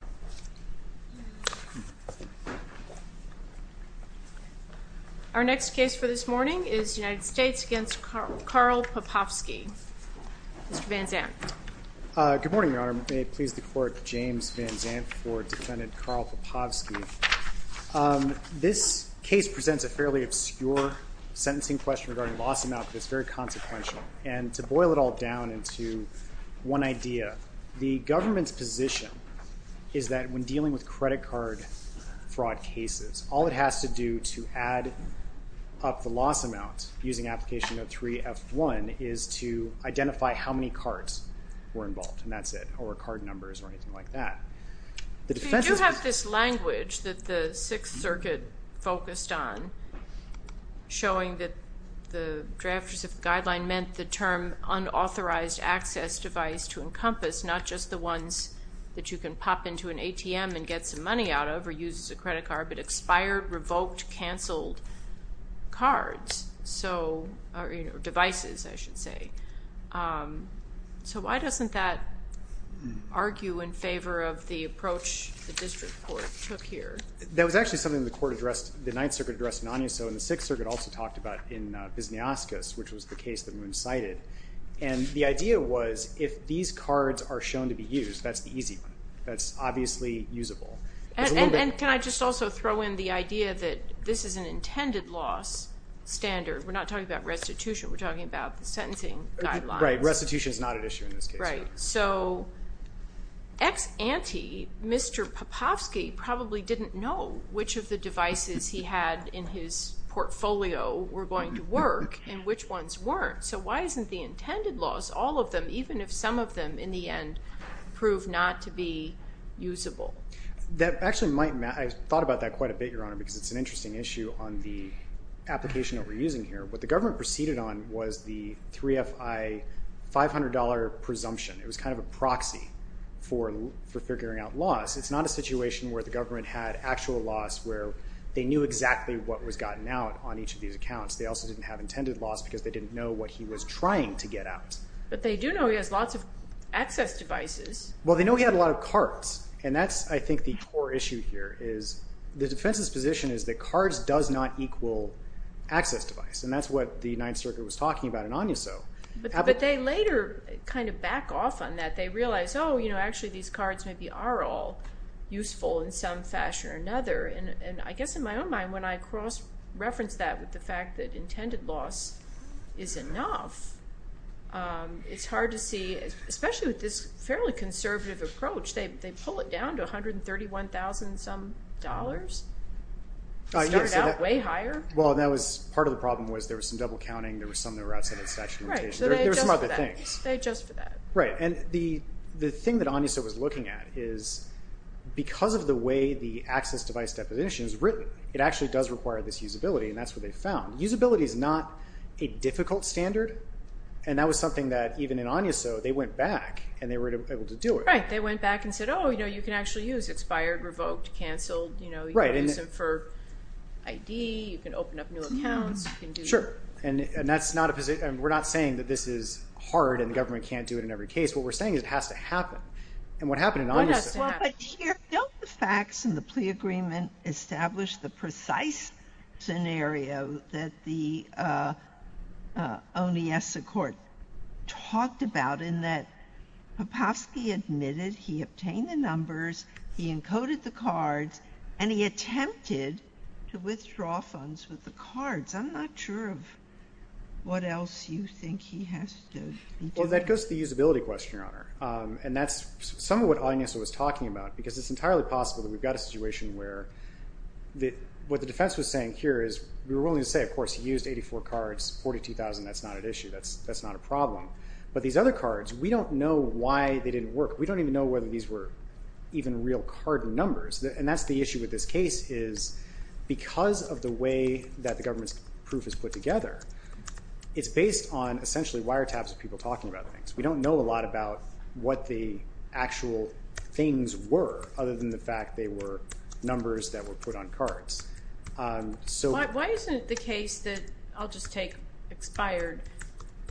Good morning, your honor. May it please the court, James Van Zandt for defendant Karl Popovski. This case presents a fairly obscure sentencing question regarding loss amount, but it's very consequential. And to boil it all down into one idea, the government's position is that when dealing with credit card fraud cases, all it has to do to add up the loss amount using application 03-F1 is to identify how many cards were involved, and that's it, or card numbers or anything like that. You do have this language that the Sixth Circuit focused on, showing that the drafters of the guideline meant the term unauthorized access device to encompass, not just the ones that you can pop into an ATM and get some money out of or use as a credit card, but expired, revoked, canceled cards, devices, I should say. So why doesn't that argue in favor of the approach the district court took here? That was actually something the court addressed, the Ninth Circuit addressed in Agnus Dei, and the Sixth Circuit also talked about in Visniaskis, which was the case that Moon cited. And the idea was if these cards are shown to be used, that's the easy one. That's obviously usable. And can I just also throw in the idea that this is an intended loss standard? We're not talking about restitution, we're talking about the sentencing guidelines. Right, restitution is not an issue in this case. Right, so ex ante, Mr. Popovsky probably didn't know which of the devices he had in his portfolio were going to work and which ones weren't. So why isn't the intended loss, all of them, even if some of them in the end prove not to be usable? That actually might matter. I thought about that quite a bit, Your Honor, because it's an interesting issue on the application that we're using here. What the government proceeded on was the 3FI $500 presumption. It was kind of a proxy for figuring out loss. It's not a situation where the government had actual loss where they knew exactly what was gotten out on each of these accounts. They also didn't have intended loss because they didn't know what he was trying to get out. But they do know he has lots of access devices. Well, they know he had a lot of cards, and that's, I think, the core issue here is the defense's position is that cards does not equal access device. And that's what the Ninth Circuit was talking about in Agnuso. But they later kind of back off on that. They realize, oh, you know, actually these cards maybe are all useful in some fashion or another. And I guess in my own mind, when I cross-reference that with the fact that intended loss is enough, it's hard to see, especially with this fairly conservative approach. They pull it down to $131,000-some dollars. It started out way higher. Well, that was part of the problem was there was some double-counting. There were some that were outside of the statute of limitations. Right. So they adjust for that. There were some other things. They adjust for that. Right. And the thing that Agnuso was looking at is because of the way the access device deposition is written, it actually does require this usability. And that's what they found. Usability is not a difficult standard. And that was something that even in Agnuso, they went back and they were able to do it. Right. They went back and said, oh, you know, you can actually use expired, revoked, canceled. Right. You know, you can use them for ID. You can open up new accounts. Sure. And that's not a position. We're not saying that this is hard and the government can't do it in every case. What we're saying is it has to happen. And what happened in Agnuso- And he attempted to withdraw funds with the cards. I'm not sure of what else you think he has to do. Well, that goes to the usability question, Your Honor. And that's somewhat what Agnuso was talking about because it's entirely possible that we've got a situation where what the defense was saying here is we're willing to say, of course, he used 84 cards, 42,000. That's not an issue. That's not a problem. But these other cards, we don't know why they didn't work. We don't even know whether these were even real card numbers. And that's the issue with this case is because of the way that the government's proof is put together, it's based on essentially wiretaps of people talking about things. We don't know a lot about what the actual things were other than the fact they were numbers that were put on cards. Why isn't the case that I'll just take expired.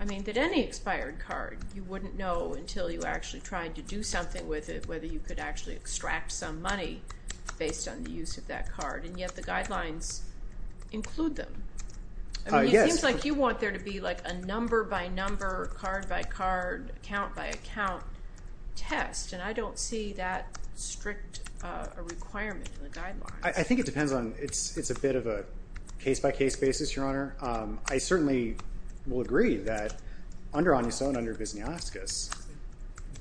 I mean, that any expired card, you wouldn't know until you actually tried to do something with it, whether you could actually extract some money based on the use of that card. And yet the guidelines include them. It seems like you want there to be like a number by number, card by card, account by account test. And I don't see that strict a requirement in the guidelines. I think it depends on it's a bit of a case by case basis, Your Honor. I certainly will agree that under Agnuson, under Visnioskis,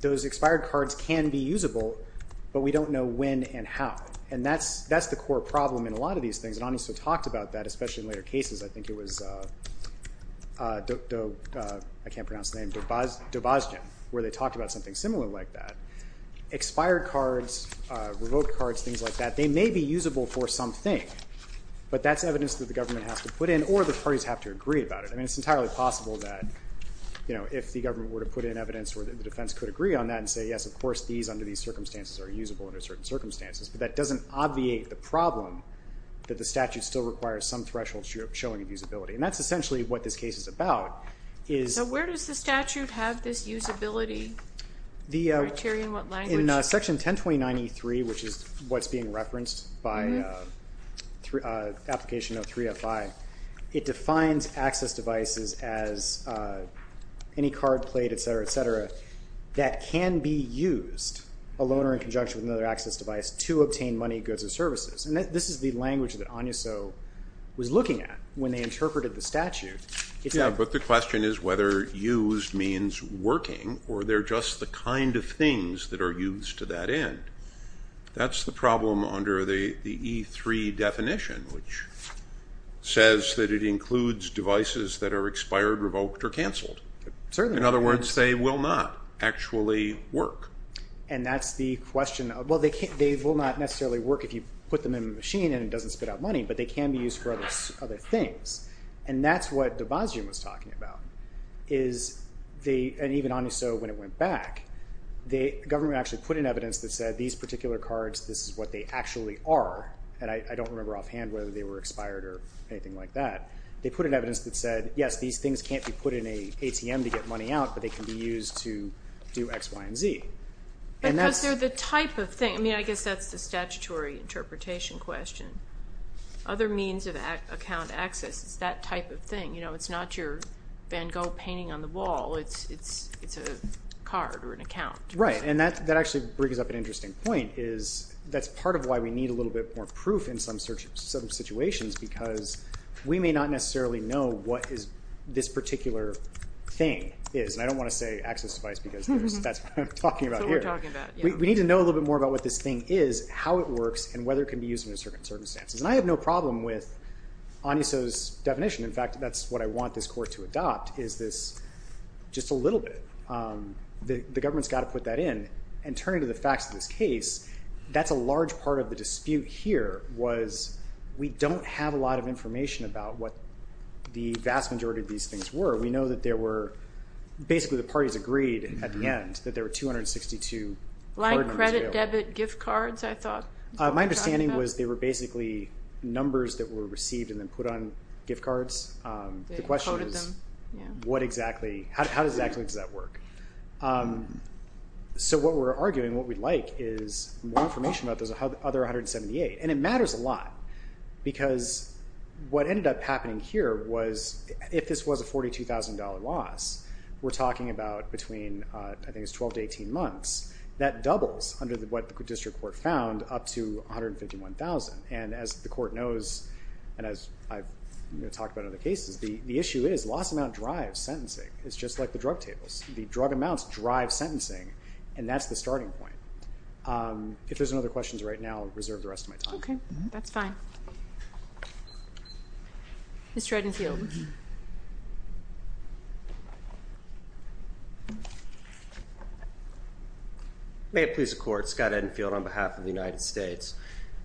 those expired cards can be usable, but we don't know when and how. And that's the core problem in a lot of these things. And Agnuson talked about that, especially in later cases. I think it was, I can't pronounce the name, Dobazgen, where they talked about something similar like that. Expired cards, revoked cards, things like that, they may be usable for something, but that's evidence that the government has to put in or the parties have to agree about it. I mean, it's entirely possible that, you know, if the government were to put in evidence where the defense could agree on that and say, yes, of course, these under these circumstances are usable under certain circumstances. But that doesn't obviate the problem that the statute still requires some threshold showing of usability. And that's essentially what this case is about. So where does the statute have this usability criteria? In what language? In Section 1029E3, which is what's being referenced by application of 305, it defines access devices as any card, plate, et cetera, et cetera, that can be used, a loaner in conjunction with another access device, to obtain money, goods, or services. And this is the language that Agnuson was looking at when they interpreted the statute. Yeah, but the question is whether used means working or they're just the kind of things that are used to that end. That's the problem under the E3 definition, which says that it includes devices that are expired, revoked, or canceled. In other words, they will not actually work. And that's the question. Well, they will not necessarily work if you put them in a machine and it doesn't spit out money, but they can be used for other things. And that's what de Bazian was talking about. And even Agnuson, when it went back, the government actually put in evidence that said these particular cards, this is what they actually are. And I don't remember offhand whether they were expired or anything like that. They put in evidence that said, yes, these things can't be put in an ATM to get money out, but they can be used to do X, Y, and Z. Because they're the type of thing. I mean, I guess that's the statutory interpretation question. Other means of account access is that type of thing. It's not your Van Gogh painting on the wall. It's a card or an account. Right. And that actually brings up an interesting point. That's part of why we need a little bit more proof in some situations, because we may not necessarily know what this particular thing is. And I don't want to say access device, because that's what I'm talking about here. That's what we're talking about. We need to know a little bit more about what this thing is, how it works, and whether it can be used under certain circumstances. And I have no problem with Aniso's definition. In fact, that's what I want this court to adopt, is this just a little bit. The government's got to put that in. And turning to the facts of this case, that's a large part of the dispute here, was we don't have a lot of information about what the vast majority of these things were. We know that basically the parties agreed at the end that there were 262 card numbers available. Like credit, debit, gift cards, I thought. My understanding was they were basically numbers that were received and then put on gift cards. The question is, how exactly does that work? So what we're arguing, what we'd like, is more information about those other 178. And it matters a lot, because what ended up happening here was, if this was a $42,000 loss, we're talking about between, I think it's 12 to 18 months. That doubles under what the district court found up to $151,000. And as the court knows, and as I've talked about in other cases, the issue is loss amount drives sentencing. It's just like the drug tables. The drug amounts drive sentencing, and that's the starting point. If there's no other questions right now, I'll reserve the rest of my time. Okay, that's fine. Mr. Edenfield. May it please the court, Scott Edenfield on behalf of the United States.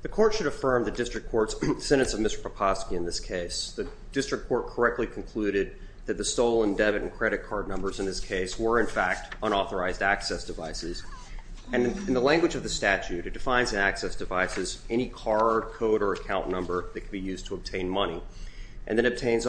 The court should affirm the district court's sentence of Mr. Poposky in this case. The district court correctly concluded that the stolen debit and credit card numbers in this case were, in fact, unauthorized access devices. And in the language of the statute, it defines access devices, any card, code, or account number that can be used to obtain money. And then defines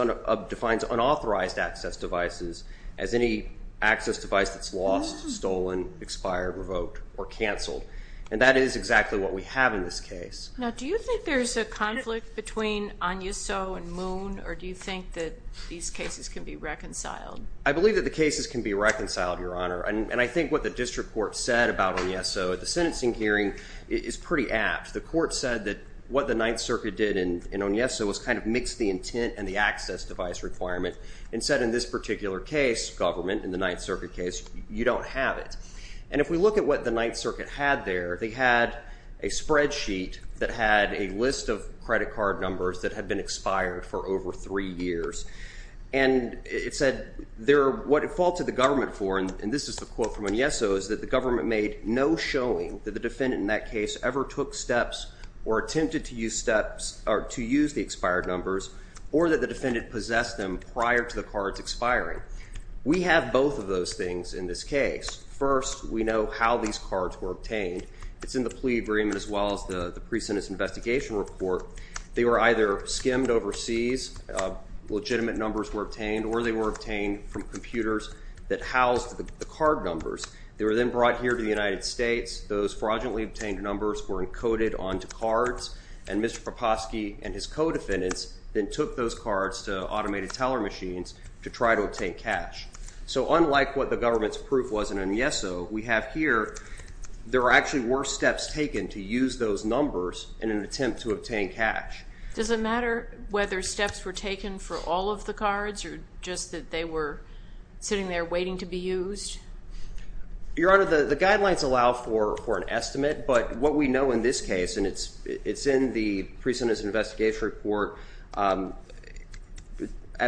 unauthorized access devices as any access device that's lost, stolen, expired, revoked, or canceled. And that is exactly what we have in this case. Now, do you think there's a conflict between Agnuso and Moon, or do you think that these cases can be reconciled? I believe that the cases can be reconciled, Your Honor. And I think what the district court said about Agnuso at the sentencing hearing is pretty apt. The court said that what the Ninth Circuit did in Agnuso was kind of mix the intent and the access device requirement. And said in this particular case, government, in the Ninth Circuit case, you don't have it. And if we look at what the Ninth Circuit had there, they had a spreadsheet that had a list of credit card numbers that had been expired for over three years. And it said what it faulted the government for, and this is the quote from Agnuso, is that the government made no showing that the defendant in that case ever took steps or attempted to use the expired numbers, or that the defendant possessed them prior to the cards expiring. We have both of those things in this case. First, we know how these cards were obtained. It's in the plea agreement as well as the pre-sentence investigation report. They were either skimmed overseas, legitimate numbers were obtained, or they were obtained from computers that housed the card numbers. They were then brought here to the United States. Those fraudulently obtained numbers were encoded onto cards. And Mr. Poposky and his co-defendants then took those cards to automated teller machines to try to obtain cash. So unlike what the government's proof was in Agnuso, we have here, there actually were steps taken to use those numbers in an attempt to obtain cash. Does it matter whether steps were taken for all of the cards or just that they were sitting there waiting to be used? Your Honor, the guidelines allow for an estimate, but what we know in this case, and it's in the pre-sentence investigation report at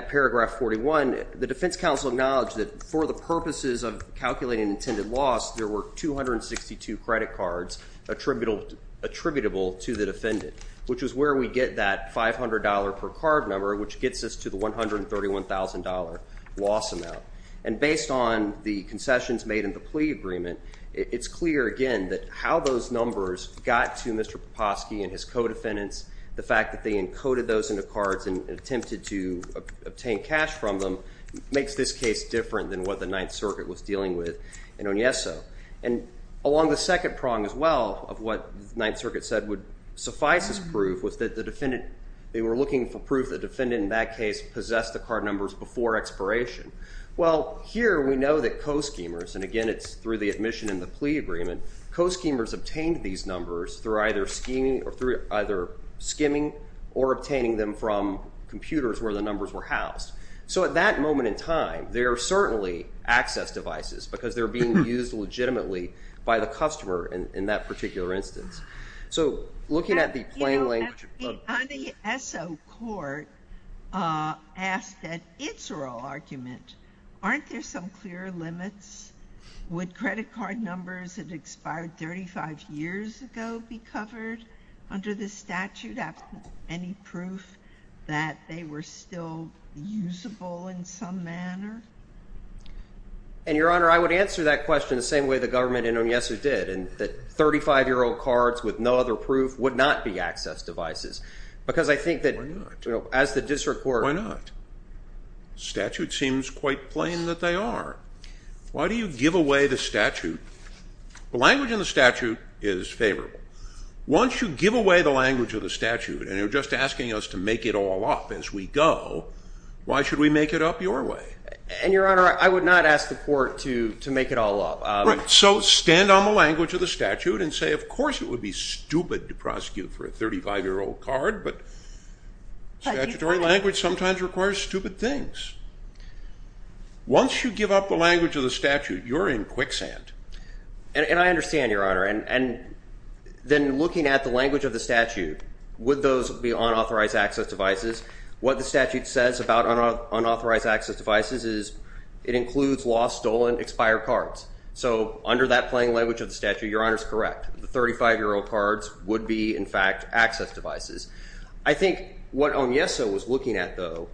paragraph 41, the defense counsel acknowledged that for the purposes of calculating intended loss, there were 262 credit cards attributable to the defendant, which is where we get that $500 per card number, which gets us to the $131,000 loss amount. And based on the concessions made in the plea agreement, it's clear again that how those numbers got to Mr. Poposky and his co-defendants, the fact that they encoded those into cards and attempted to obtain cash from them, makes this case different than what the Ninth Circuit was dealing with in Agnuso. And along the second prong as well of what the Ninth Circuit said would suffice as proof was that the defendant, they were looking for proof that the defendant in that case possessed the card numbers before expiration. Well, here we know that co-schemers, and again it's through the admission in the plea agreement, co-schemers obtained these numbers through either skimming or obtaining them from computers where the numbers were housed. So at that moment in time, they are certainly access devices because they're being used legitimately by the customer in that particular instance. So looking at the plain language. The ESSO court asked that it's a raw argument. Aren't there some clear limits? Would credit card numbers that expired 35 years ago be covered under the statute, any proof that they were still usable in some manner? And, Your Honor, I would answer that question the same way the government in Agnuso did, and that 35-year-old cards with no other proof would not be access devices because I think that as the district court. Why not? The statute seems quite plain that they are. Why do you give away the statute? The language in the statute is favorable. Once you give away the language of the statute and you're just asking us to make it all up as we go, why should we make it up your way? And, Your Honor, I would not ask the court to make it all up. Right. So stand on the language of the statute and say, of course, it would be stupid to prosecute for a 35-year-old card, but statutory language sometimes requires stupid things. Once you give up the language of the statute, you're in quicksand. And I understand, Your Honor, and then looking at the language of the statute, would those be unauthorized access devices? What the statute says about unauthorized access devices is it includes lost, stolen, expired cards. So under that plain language of the statute, Your Honor's correct. The 35-year-old cards would be, in fact, access devices. I think what Agnuso was looking at, though,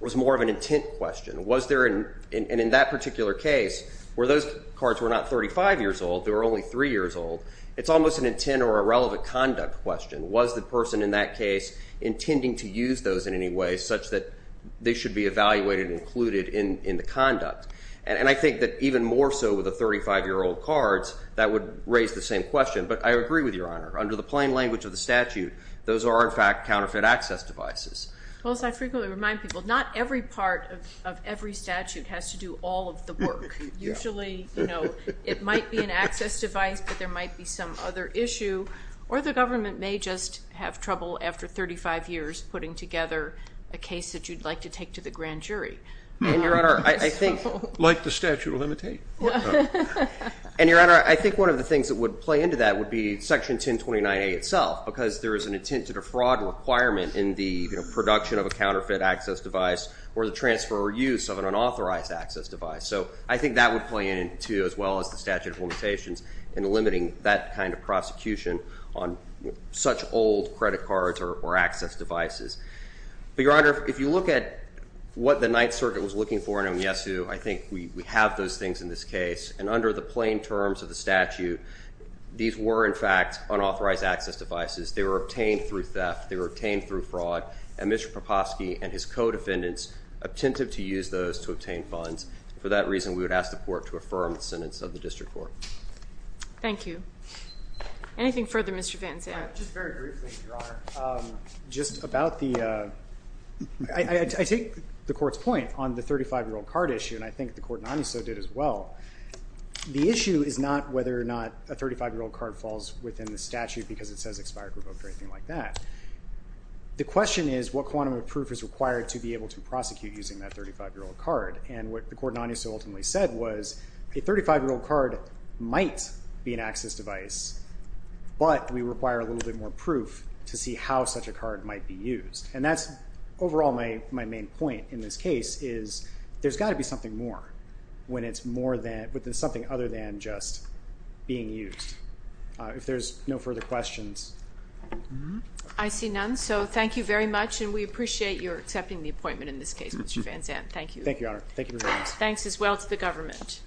was more of an intent question. Was there in that particular case where those cards were not 35 years old, they were only 3 years old, it's almost an intent or a relevant conduct question. Was the person in that case intending to use those in any way such that they should be evaluated and included in the conduct? And I think that even more so with the 35-year-old cards, that would raise the same question. But I agree with Your Honor. Under the plain language of the statute, those are, in fact, counterfeit access devices. Well, as I frequently remind people, not every part of every statute has to do all of the work. Usually, you know, it might be an access device, but there might be some other issue. Or the government may just have trouble after 35 years putting together a case that you'd like to take to the grand jury. And, Your Honor, I think... Like the statute will imitate. And, Your Honor, I think one of the things that would play into that would be Section 1029A itself because there is an intent to defraud requirement in the production of a counterfeit access device or the transfer or use of an unauthorized access device. So I think that would play in, too, as well as the statute of limitations in limiting that kind of prosecution on such old credit cards or access devices. But, Your Honor, if you look at what the Ninth Circuit was looking for in Omyesu, I think we have those things in this case. And under the plain terms of the statute, these were, in fact, unauthorized access devices. They were obtained through theft. They were obtained through fraud. And Mr. Popofsky and his co-defendants attempted to use those to obtain funds. For that reason, we would ask the court to affirm the sentence of the district court. Thank you. Anything further, Mr. Van Zandt? Just very briefly, Your Honor, just about the... I take the court's point on the 35-year-old card issue, and I think the court in Omyesu did as well. The issue is not whether or not a 35-year-old card falls within the statute because it says expired, revoked, or anything like that. The question is what quantum of proof is required to be able to prosecute using that 35-year-old card. And what the court in Omyesu ultimately said was a 35-year-old card might be an access device, but we require a little bit more proof to see how such a card might be used. And that's overall my main point in this case is there's got to be something more when it's something other than just being used. If there's no further questions. I see none, so thank you very much, and we appreciate your accepting the appointment in this case, Mr. Van Zandt. Thank you. Thank you, Your Honor. Thank you for joining us. Thanks as well to the government.